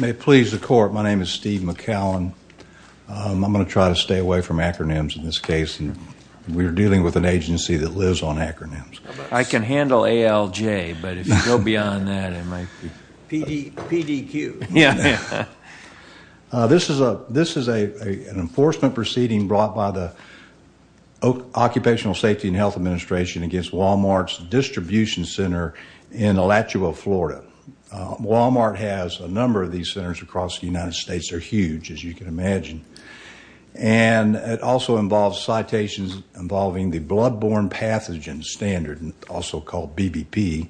May it please the court, my name is Steve McCallin. I'm going to try to stay away from acronyms in this case. We're dealing with an agency that lives on acronyms. I can handle ALJ, but if you go beyond that it might be... PDQ. Yeah, yeah. This is an enforcement proceeding brought by the Occupational Safety and Health Administration against Walmart's distribution center in Alachua, Florida. Walmart has a number of these centers across the United States. They're huge, as you can imagine, and it also involves citations involving the blood-borne pathogen standard, also called BBP,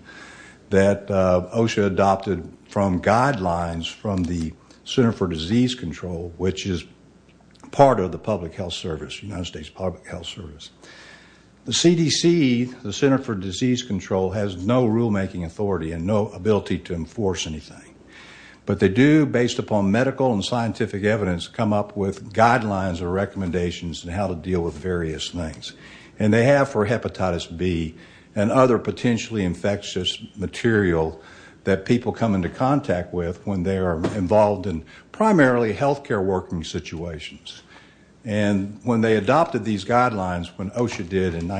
that OSHA adopted from guidelines from the Center for Disease Control, which is part of the public health service, United The Center for Disease Control has no rulemaking authority and no ability to enforce anything. But they do, based upon medical and scientific evidence, come up with guidelines or recommendations and how to deal with various things. And they have for hepatitis B and other potentially infectious material that people come into contact with when they are involved in primarily health care working situations. And when they adopted these guidelines, when OSHA did in the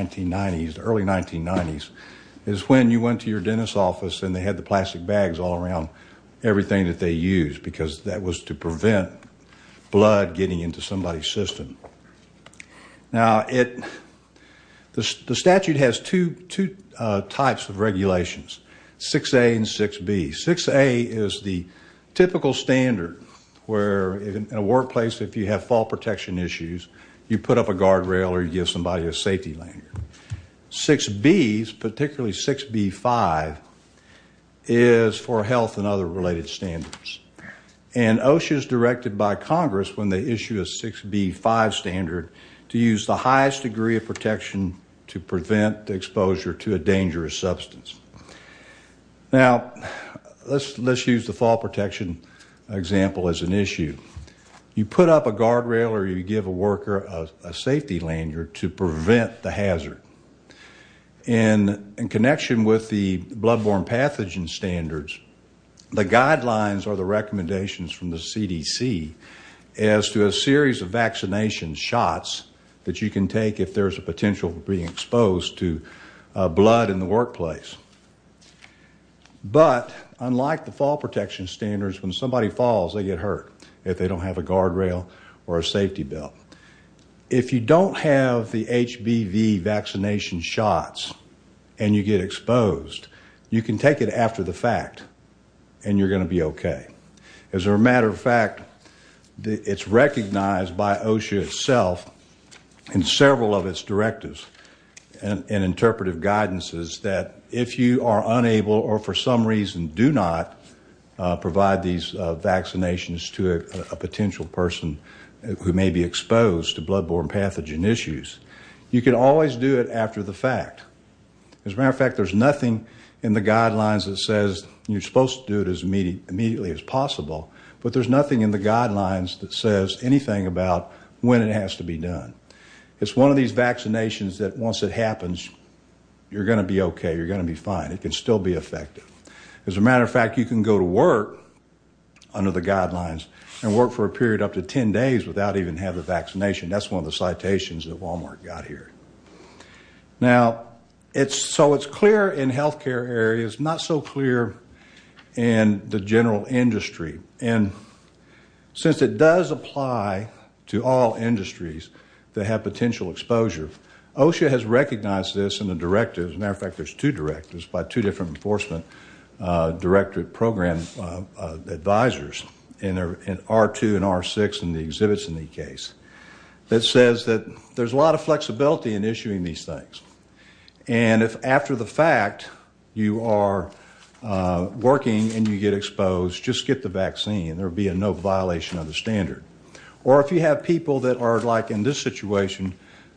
early 1990s, is when you went to your dentist's office and they had the plastic bags all around everything that they used, because that was to prevent blood getting into somebody's system. Now the statute has two types of regulations, 6A and 6B. 6A is the typical standard where in a workplace, if you have fall protection issues, you put up a guardrail or you give somebody a safety lanyard. 6B, particularly 6B-5, is for health and other related standards. And OSHA is directed by Congress when they issue a 6B-5 standard to use the highest degree of protection to prevent exposure to a dangerous substance. Now let's use the fall protection example as an issue. You put up a guardrail or you give somebody a safety belt to prevent the hazard. And in connection with the blood-borne pathogen standards, the guidelines are the recommendations from the CDC as to a series of vaccination shots that you can take if there's a potential for being exposed to blood in the workplace. But unlike the fall protection standards, when somebody falls, they get hurt if they don't have the HBV vaccination shots and you get exposed, you can take it after the fact and you're going to be okay. As a matter of fact, it's recognized by OSHA itself in several of its directives and interpretive guidances that if you are unable or for some reason do not provide these vaccinations to a potential person who may be exposed to blood-borne pathogen issues, you can always do it after the fact. As a matter of fact, there's nothing in the guidelines that says you're supposed to do it as immediately as possible, but there's nothing in the guidelines that says anything about when it has to be done. It's one of these vaccinations that once it happens, you're going to be okay. You're going to be fine. It can still be effective. As a matter of fact, you can go to work under the guidelines and work for a period up to 10 days without even having the vaccination. That's one of the citations that Walmart got here. Now, so it's clear in healthcare areas, not so clear in the general industry. Since it does apply to all industries that have potential exposure, OSHA has recognized this in the directives. As a matter of fact, there's two directives by two different enforcement directorate program advisors in R2 and R6 and the exhibits in the case that says that there's a lot of flexibility in issuing these things. And if after the fact, you are working and you get exposed, just get the vaccine. There'll be a no violation of the standard. Or if you have people that are like in this situation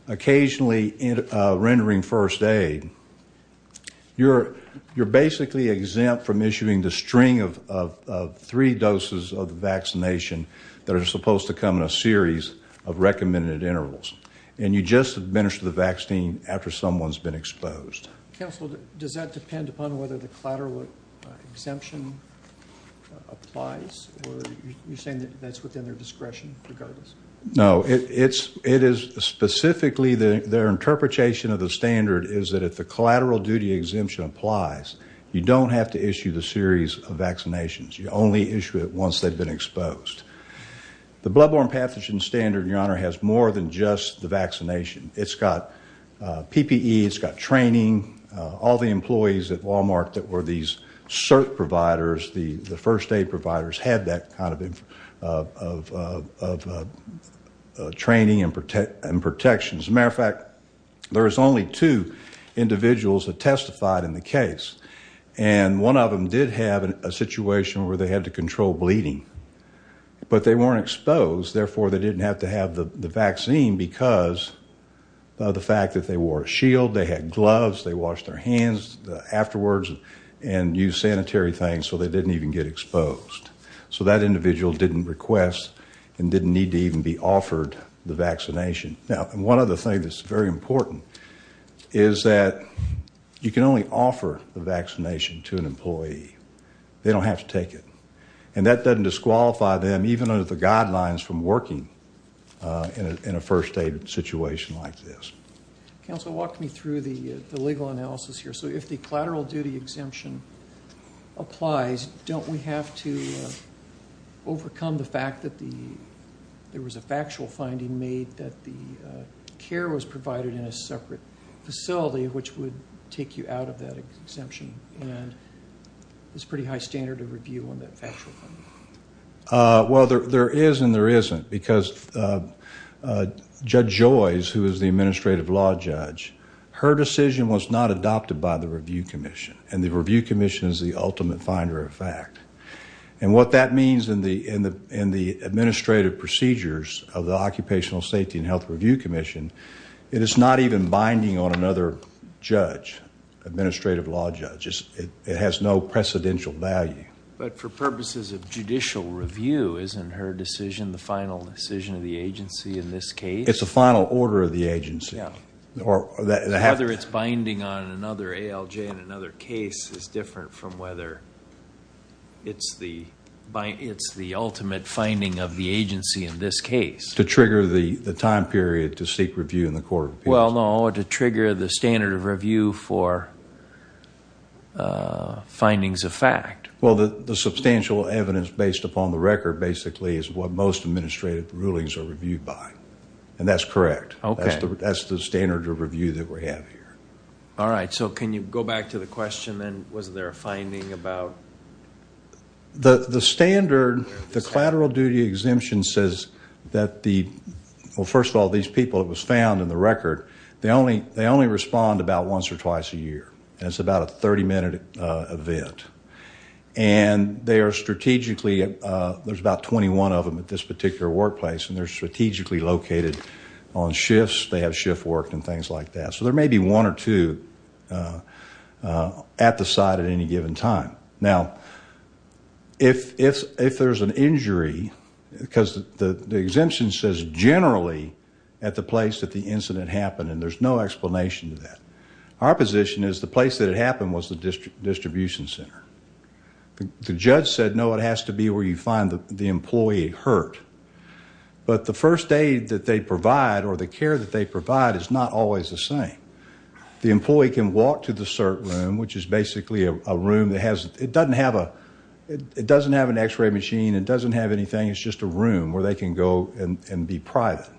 occasionally rendering first aid, you're basically exempt from issuing the string of three doses of the vaccination that are supposed to come in a series of recommended intervals. And you just administer the vaccine after someone's been exposed. Counsel, does that depend upon whether the collateral exemption applies or you're saying that that's within their discretion regardless? No, it is specifically their interpretation of the standard is that if the collateral duty exemption applies, you don't have to issue the series of vaccinations. You only issue it once they've been exposed. The blood borne pathogen standard, your honor, has more than just the vaccination. It's got PPE, it's got training. All the employees at Walmart that were these CERT providers, the first aid providers, had that kind of training and protections. As a matter of fact, there's only two individuals that testified in the control bleeding. But they weren't exposed, therefore they didn't have to have the vaccine because of the fact that they wore a shield, they had gloves, they washed their hands afterwards and used sanitary things so they didn't even get exposed. So that individual didn't request and didn't need to even be offered the vaccination. Now, one other thing that's very important is that you can only offer the vaccination to an employee. They don't have to take it. And that doesn't disqualify them even under the guidelines from working in a first aid situation like this. Counselor, walk me through the legal analysis here. So if the collateral duty exemption applies, don't we have to overcome the fact that there was a factual finding made that the care was provided in a separate facility, which would take you out of that exemption and it's pretty high standard of review on that factual finding? Well, there is and there isn't because Judge Joyce, who is the Administrative Law Judge, her decision was not adopted by the Review Commission and the Review Commission is the ultimate finder of fact. And what that means in the administrative procedures of the Occupational Safety and Health Review Commission, it is not even binding on another judge, Administrative Law Judge. It has no precedential value. But for purposes of judicial review, isn't her decision the final decision of the agency in this case? It's the final order of the agency. Whether it's binding on another ALJ in another case is different from whether it's the ultimate finding of the agency in this case. To trigger the time period to seek review in the Court of Appeals? Well, no, to trigger the standard of review for findings of fact. Well, the substantial evidence based upon the record basically is what most administrative rulings are reviewed by. And that's correct. That's the standard of review that we have here. All right. So can you go back to the question then, was there a finding about... The standard, the collateral duty exemption says that the... Well, first of all, these people it was found in the record, they only respond about once or twice a year. And it's about a 30 minute event. And they are strategically, there's about 21 of them at this particular workplace and they're strategically located on shifts. They have shift work and things like that. So there may be one or two at the site at any given time. Now, if there's an injury, because the exemption says generally at the place that the incident happened and there's no explanation to that. Our position is the place that it happened was the distribution center. The judge said, no, it has to be where you find the employee hurt. But the first aid that they provide or the care that they provide is not always the same. The employee can walk to the CERT room, which is basically a room that has... It doesn't have an x-ray machine. It doesn't have anything. It's just a room where they can go and be private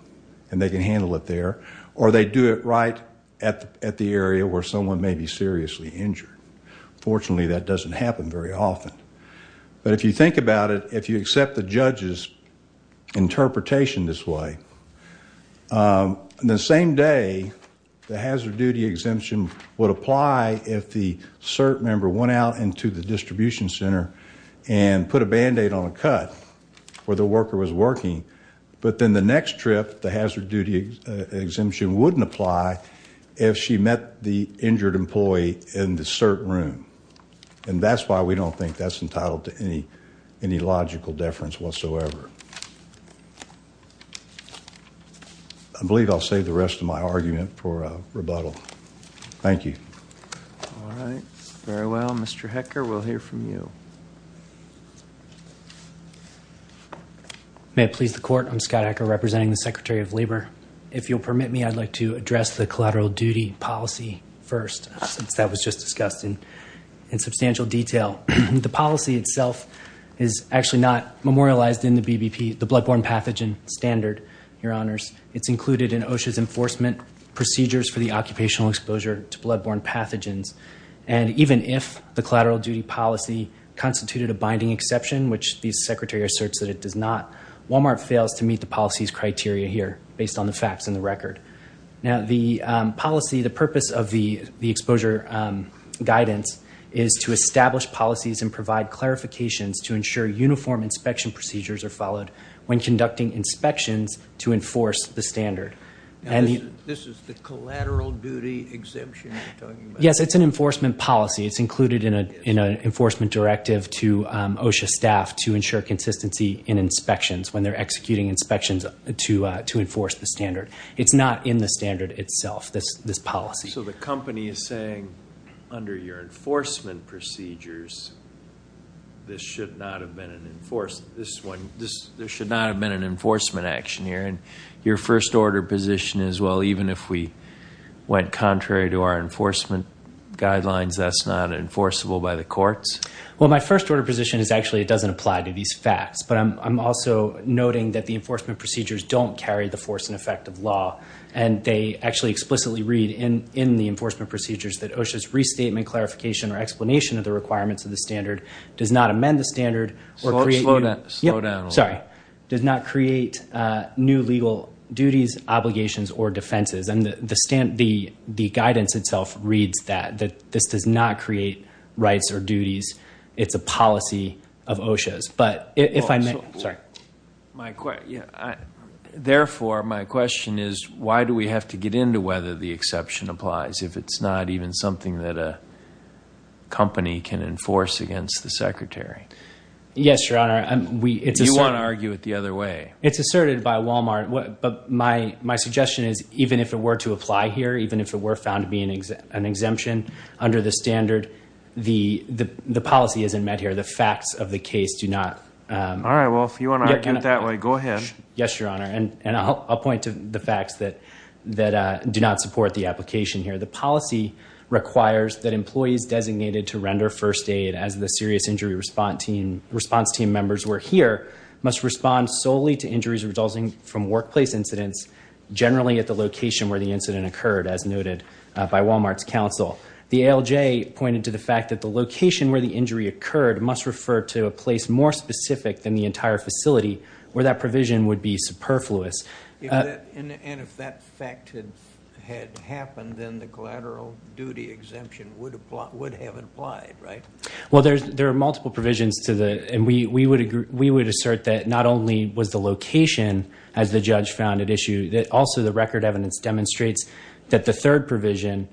and they can handle it there. Or they do it right at the area where someone may be seriously injured. Fortunately, that doesn't happen very often. But if you think about it, if you accept the judge's interpretation this way, the same day the hazard duty exemption would apply if the CERT member went out into the distribution center and put a Band-Aid on a cut where the worker was working. But then the next trip, the hazard duty exemption wouldn't apply if she met the injured employee in the CERT room. And that's why we don't think that's entitled to any logical deference whatsoever. I believe I'll save the rest of my argument for rebuttal. Thank you. All right. Very well. Mr. Hecker, we'll hear from you. May it please the court. I'm Scott Hecker representing the Secretary of Labor. If you'll permit me, I'd like to address the collateral duty policy first, since that was just discussed in substantial detail. The policy itself is actually not memorialized in the BBP, the Bloodborne Pathogen Standard, Your Honors. It's included in OSHA's enforcement procedures for the occupational exposure to bloodborne pathogens. And even if the collateral duty policy constituted a binding exception, which the Secretary asserts that it does not, Walmart fails to meet the policy's criteria here, based on the facts and the record. Now, the policy, the purpose of the exposure guidance is to establish policies and provide clarifications to ensure uniform inspection procedures are followed when conducting inspections to enforce the standard. This is the collateral duty exemption you're talking about? Yes, it's an enforcement policy. It's included in an enforcement directive to OSHA staff to ensure consistency in inspections when they're executing inspections to enforce the standard. It's not in the standard itself, this policy. So the company is saying, under your enforcement procedures, there should not have been an enforcement action here. And your first order position is, well, even if we went contrary to our enforcement guidelines, that's not enforceable by the courts? Well, my first order position is actually it doesn't apply to these facts. But I'm also noting that the enforcement procedures don't carry the force and effect of law. And they actually explicitly read in the enforcement procedures that OSHA's restatement, clarification, or explanation of the requirements of the standard does not amend the standard or create- Slow down. Sorry. Does not create new legal duties, obligations, or defenses. And the guidance itself reads that, that this does not create rights or duties. It's a policy of OSHA's. But why do we have to get into whether the exception applies if it's not even something that a company can enforce against the secretary? Yes, Your Honor. You want to argue it the other way? It's asserted by Walmart. But my suggestion is, even if it were to apply here, even if it were found to be an exemption under the standard, the policy isn't met here. The facts of the case do not- All right. Well, if you want to argue it that way, go ahead. Yes, Your Honor. And I'll point to the facts that do not support the application here. The policy requires that employees designated to render first aid, as the serious injury response team members were here, must respond solely to injuries resulting from workplace incidents, generally at the location where the incident occurred, as noted by Walmart's counsel. The ALJ pointed to the fact that the location where the injury occurred must refer to a place more specific than the entire facility, where that provision would be superfluous. And if that fact had happened, then the collateral duty exemption would have applied, right? Well, there are multiple provisions. And we would assert that not only was the location, as the judge found at issue, that also the record evidence demonstrates that the third provision,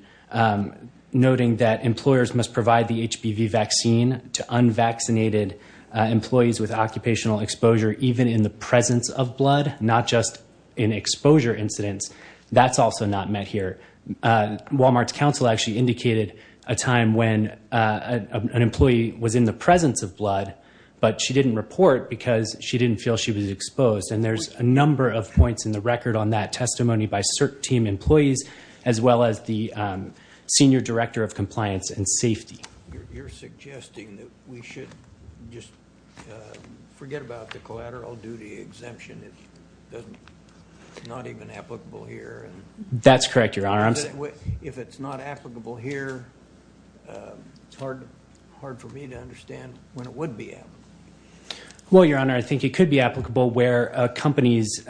noting that employers must provide the HPV vaccine to unvaccinated employees with occupational exposure, even in the presence of blood, not just in exposure incidents. That's also not met here. Walmart's counsel actually indicated a time when an employee was in the presence of blood, but she didn't report because she didn't feel she was exposed. And there's a number of points in the record on that testimony by CERT team employees, as well as the senior director of compliance and safety. You're suggesting that we should just forget about the collateral duty exemption. It's not even applicable here. That's correct, Your Honor. I'm saying if it's not applicable here, it's hard for me to understand when it would be. Well, Your Honor, I think it could be applicable where companies,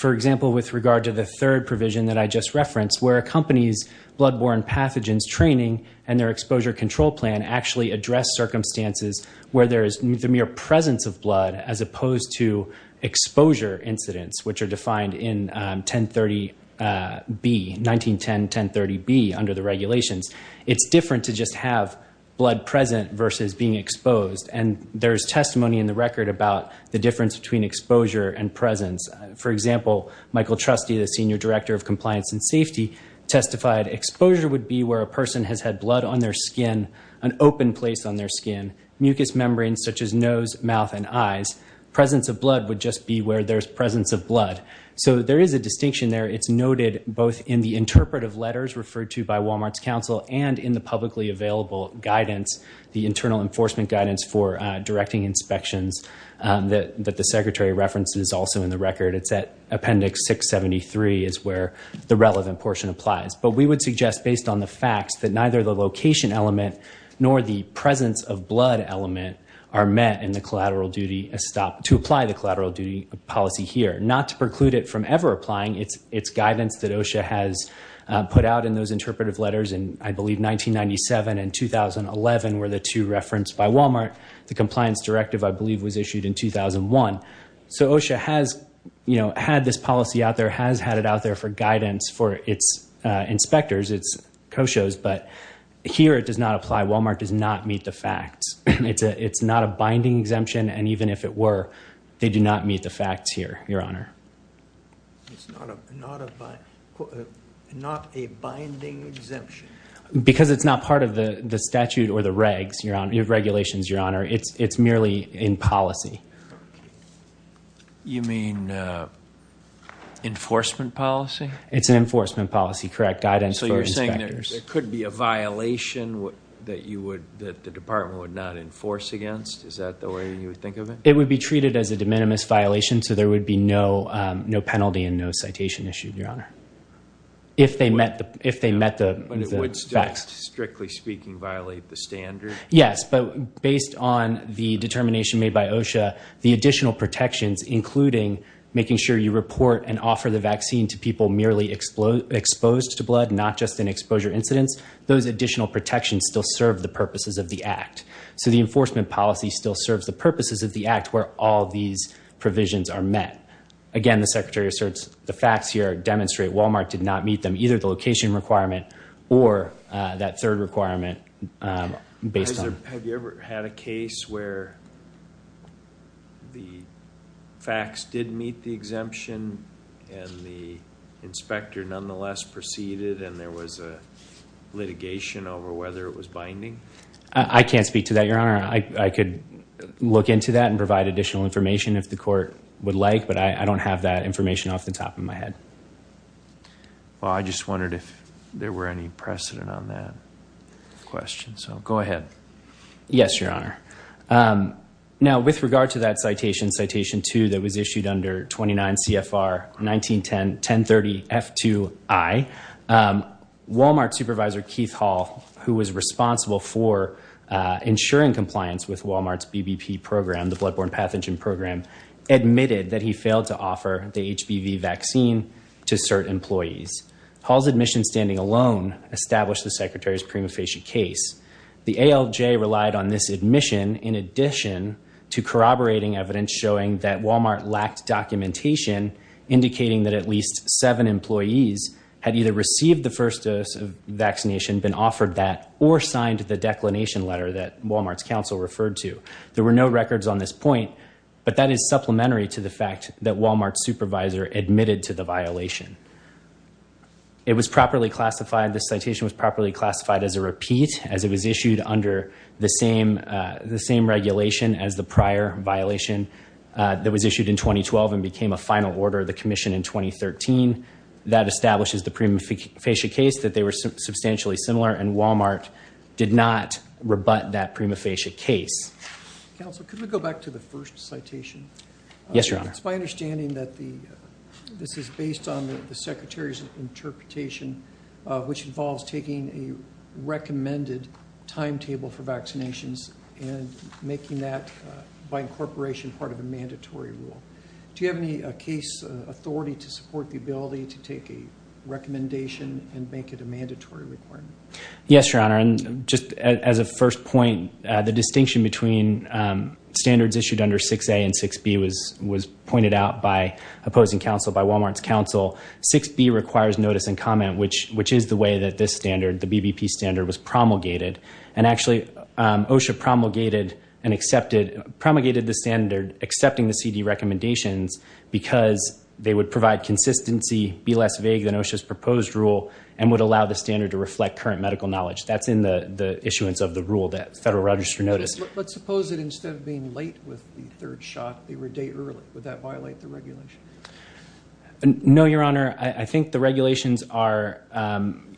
for example, with regard to the third provision that I just referenced, where a company's bloodborne pathogens training and their exposure control plan actually address circumstances where there is the mere presence of blood, as opposed to exposure incidents, which are defined in 1030B, 1910-1030B, under the regulations. It's different to just have blood present versus being exposed. And there's testimony in the record about the difference between exposure and presence. For example, Michael Trustee, the senior director of compliance and safety, testified exposure would be where a person has had blood on their skin, an open place on their skin, mucous membranes such as nose, mouth, and eyes. Presence of blood would just be where there's presence of blood. So there is a distinction there. It's noted both in the interpretive letters referred to by Walmart's counsel and in the publicly available guidance, the internal enforcement guidance for directing inspections that the secretary referenced is also in the record. It's at appendix 673 is where the relevant portion applies. But we would suggest, based on the facts, that neither the location element nor the presence of blood element are met in the collateral duty to apply the collateral duty policy here. Not to preclude it from ever applying. It's guidance that OSHA has put out in those interpretive letters in, I believe, 1997 and the compliance directive, I believe, was issued in 2001. So OSHA has had this policy out there, has had it out there for guidance for its inspectors, its co-shows. But here it does not apply. Walmart does not meet the facts. It's not a binding exemption. And even if it were, they do not meet the facts here, Your Honor. It's not a binding exemption? Because it's not part of the statute or the regs, Your Honor. Regulations, Your Honor. It's merely in policy. You mean enforcement policy? It's an enforcement policy, correct, guidance for inspectors. So you're saying there could be a violation that you would, that the department would not enforce against? Is that the way you would think of it? It would be treated as a de minimis violation. So there would be no penalty and no citation issued, Your Honor. If they met the facts. But it would, strictly speaking, violate the standard? Yes. But based on the determination made by OSHA, the additional protections, including making sure you report and offer the vaccine to people merely exposed to blood, not just in exposure incidents, those additional protections still serve the purposes of the act. So the enforcement policy still serves the purposes of the act where all these provisions are met. Again, the secretary asserts the facts here demonstrate Walmart did not meet them, either the location requirement or that third requirement. Have you ever had a case where the facts didn't meet the exemption and the inspector nonetheless proceeded and there was a litigation over whether it was binding? I can't speak to that, Your Honor. I could look into that and provide additional information if the court would like, but I can't speak to that. Well, I just wondered if there were any precedent on that question. So go ahead. Yes, Your Honor. Now, with regard to that citation, Citation 2, that was issued under 29 CFR 1910-1030-F2I, Walmart supervisor Keith Hall, who was responsible for ensuring compliance with Walmart's BBP program, the Bloodborne Pathogen Program, admitted that he failed to offer the HBV vaccine to cert employees. Hall's admission standing alone established the secretary's prima facie case. The ALJ relied on this admission in addition to corroborating evidence showing that Walmart lacked documentation indicating that at least seven employees had either received the first dose of vaccination, been offered that, or signed the declination letter that Walmart's counsel referred to. There were no records on this point, but that is supplementary to the fact that Walmart's supervisor admitted to the violation. It was properly classified, this citation was properly classified as a repeat, as it was issued under the same regulation as the prior violation that was issued in 2012 and became a final order of the commission in 2013. That establishes the prima facie case that they were substantially similar, and Walmart did not rebut that prima facie case. Counsel, could we go back to the first citation? Yes, Your Honor. It's my understanding that this is based on the secretary's interpretation, which involves taking a recommended timetable for vaccinations and making that, by incorporation, part of a mandatory rule. Do you have any case authority to support the ability to take a recommendation and make it a mandatory requirement? Yes, Your Honor. And just as a first point, the distinction between standards issued under 6A and 6B was pointed out by opposing counsel, by Walmart's counsel. 6B requires notice and comment, which is the way that this standard, the BBP standard, was promulgated. And actually, OSHA promulgated and accepted, promulgated the standard accepting the CD recommendations because they would provide consistency, be less vague than OSHA's current medical knowledge. That's in the issuance of the rule that Federal Register noticed. Let's suppose that instead of being late with the third shot, they were a day early. Would that violate the regulation? No, Your Honor. I think the regulations are,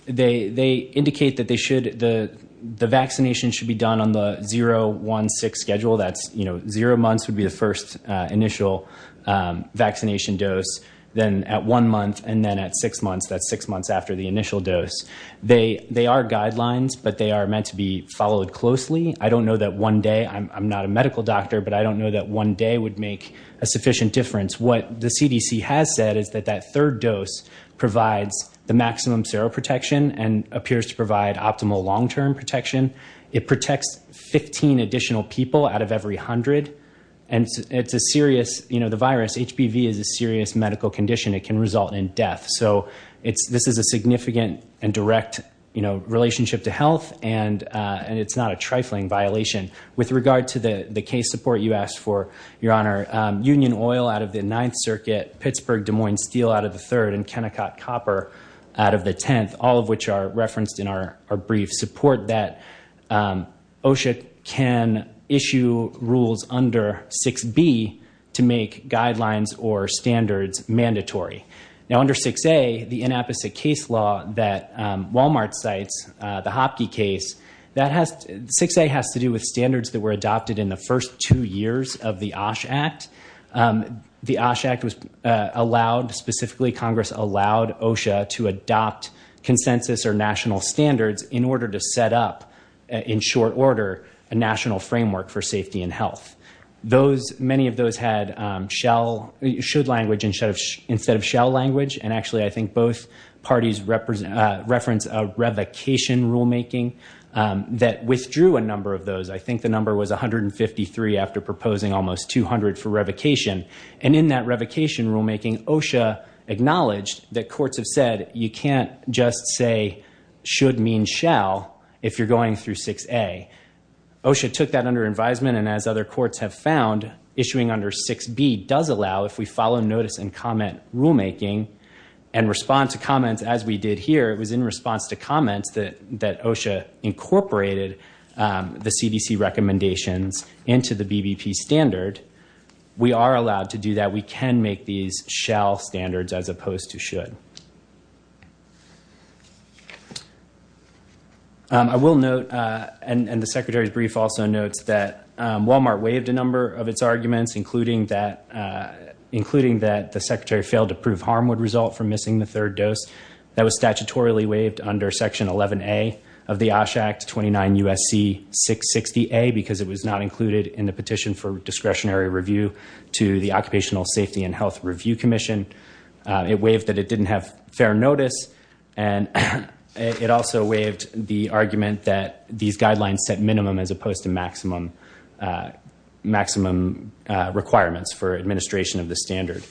they indicate that they should, the vaccination should be done on the 0-1-6 schedule. That's, you know, zero months would be the first initial vaccination dose, then at one month, and then at six months. That's six months after the initial dose. They are guidelines, but they are meant to be followed closely. I don't know that one day, I'm not a medical doctor, but I don't know that one day would make a sufficient difference. What the CDC has said is that that third dose provides the maximum seroprotection and appears to provide optimal long-term protection. It protects 15 additional people out of every 100, and it's a serious, you know, the virus, It can result in death. So, this is a significant and direct, you know, relationship to health, and it's not a trifling violation. With regard to the case support you asked for, Your Honor, Union Oil out of the Ninth Circuit, Pittsburgh, Des Moines Steel out of the third, and Kennecott Copper out of the tenth, all of which are referenced in our brief, support that OSHA can issue rules under 6B to make guidelines or standards mandatory. Now, under 6A, the inapposite case law that Walmart cites, the Hopke case, 6A has to do with standards that were adopted in the first two years of the OSHA Act. The OSHA Act was allowed, specifically Congress allowed OSHA to adopt consensus or national standards in order to set up, in short order, a national framework for safety and health. Those, many of those had shall, should language instead of shall language, and actually I think both parties reference a revocation rulemaking that withdrew a number of those. I think the number was 153 after proposing almost 200 for revocation. And in that revocation rulemaking, OSHA acknowledged that courts have said you can't just say should mean shall if you're going through 6A. OSHA took that under advisement, and as other courts have found, issuing under 6B does allow, if we follow notice and comment rulemaking and respond to comments as we did here, it was in response to comments that OSHA incorporated the CDC recommendations into the BBP standard, we are allowed to do that. We can make these shall standards as opposed to should. I will note, and the Secretary's brief also notes that Walmart waived a number of its arguments, including that the Secretary failed to prove harm would result from missing the third dose. That was statutorily waived under Section 11A of the OSHA Act, 29 U.S.C. 660A, because it was not included in the petition for discretionary review to the Occupational Safety and Health Review Commission. It waived that it didn't have fair notice, and it also waived the argument that these guidelines set minimum as opposed to maximum requirements for administration of the standard.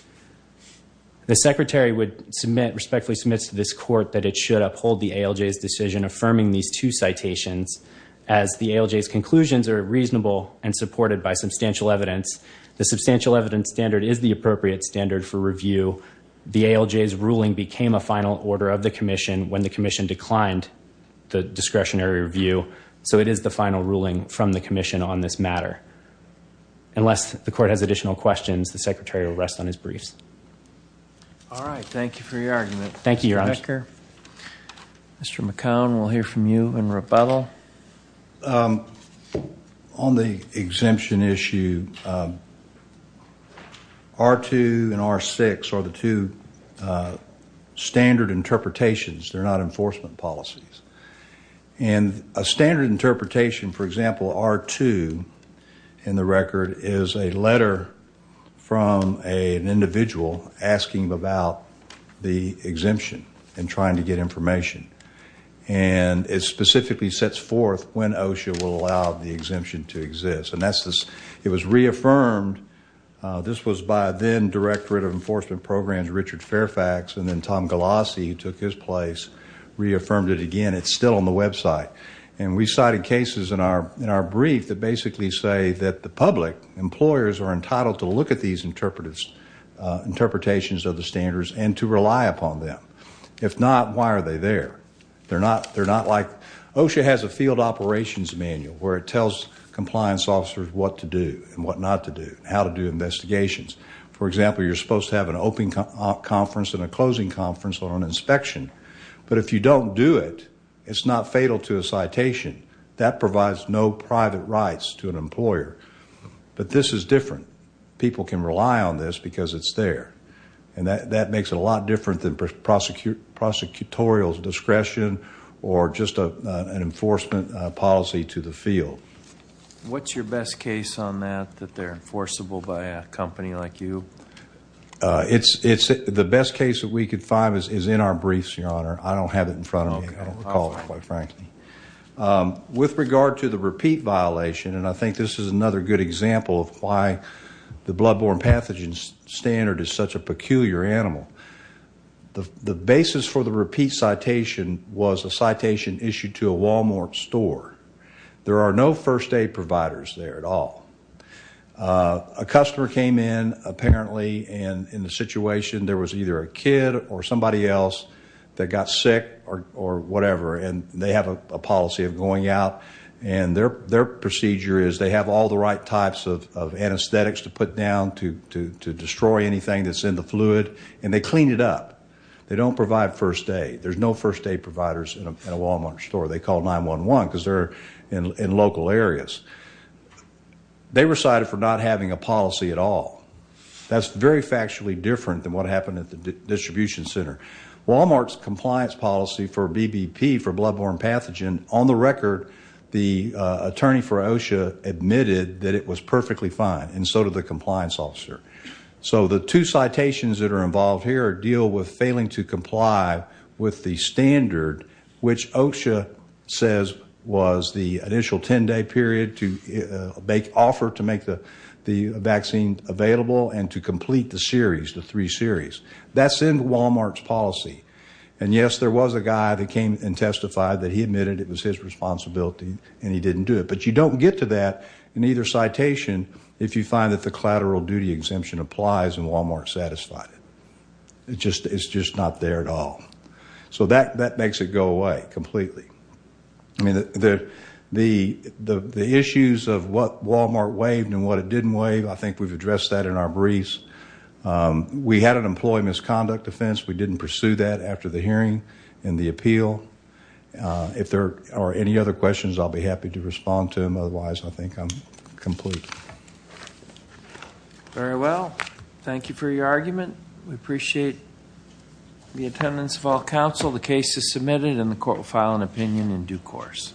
The Secretary respectfully submits to this court that it should uphold the ALJ's decision affirming these two citations, as the ALJ's conclusions are reasonable and supported by substantial evidence. The substantial evidence standard is the appropriate standard for review. The ALJ's ruling became a final order of the Commission when the Commission declined the discretionary review. So it is the final ruling from the Commission on this matter. Unless the court has additional questions, the Secretary will rest on his briefs. All right. Thank you for your argument. Thank you, Your Honor. Mr. Becker, Mr. McCown, we'll hear from you in rebuttal. On the exemption issue, R2 and R6 are the two standard interpretations. They're not enforcement policies. And a standard interpretation, for example, R2 in the record is a letter from an individual asking about the exemption and trying to get information. And it specifically sets forth when OSHA will allow the exemption to exist. And it was reaffirmed. This was by then Directorate of Enforcement Programs Richard Fairfax, and then Tom Galassi took his place, reaffirmed it again. It's still on the website. And we cited cases in our brief that basically say that the public employers are entitled to look at these interpretations of the standards and to rely upon them. If not, why are they there? OSHA has a field operations manual where it tells compliance officers what to do and what not to do, how to do investigations. For example, you're supposed to have an open conference and a closing conference on an inspection. But if you don't do it, it's not fatal to a citation. That provides no private rights to an employer. But this is different. People can rely on this because it's there. And that makes it a lot different than prosecutorial discretion or just an enforcement policy to the field. What's your best case on that, that they're enforceable by a company like you? The best case that we could find is in our briefs, Your Honor. I don't have it in front of me. I don't recall it, quite frankly. With regard to the repeat violation, and I think this is another good example of why the bloodborne pathogen standard is such a peculiar animal, the basis for the repeat citation was a citation issued to a Walmart store. There are no first aid providers there at all. A customer came in, apparently, and in the situation, there was either a kid or somebody else that got sick or whatever. And they have a policy of going out. And their procedure is they have all the right types of anesthetics to put down to destroy anything that's in the fluid, and they clean it up. They don't provide first aid. There's no first aid providers in a Walmart store. They call 911 because they're in local areas. They were cited for not having a policy at all. That's very factually different than what happened at the distribution center. Walmart's compliance policy for BBP, for bloodborne pathogen, on the record, the attorney for OSHA admitted that it was perfectly fine, and so did the compliance officer. So the two citations that are involved here deal with failing to comply with the standard, which OSHA says was the initial 10-day period to make offer to make the vaccine available and to complete the series, the three series. That's in Walmart's policy. And yes, there was a guy that came and testified that he admitted it was his responsibility and he didn't do it. But you don't get to that in either citation if you find that the collateral duty exemption applies and Walmart satisfied it. It's just not there at all. So that makes it go away completely. I mean, the issues of what Walmart waived and what it didn't waive, I think we've addressed that in our briefs. We had an employee misconduct offense. We didn't pursue that after the hearing and the appeal. If there are any other questions, I'll be happy to respond to them. Otherwise, I think I'm complete. Very well. Thank you for your argument. We appreciate the attendance of all counsel. The case is submitted and the court will file an opinion in due course.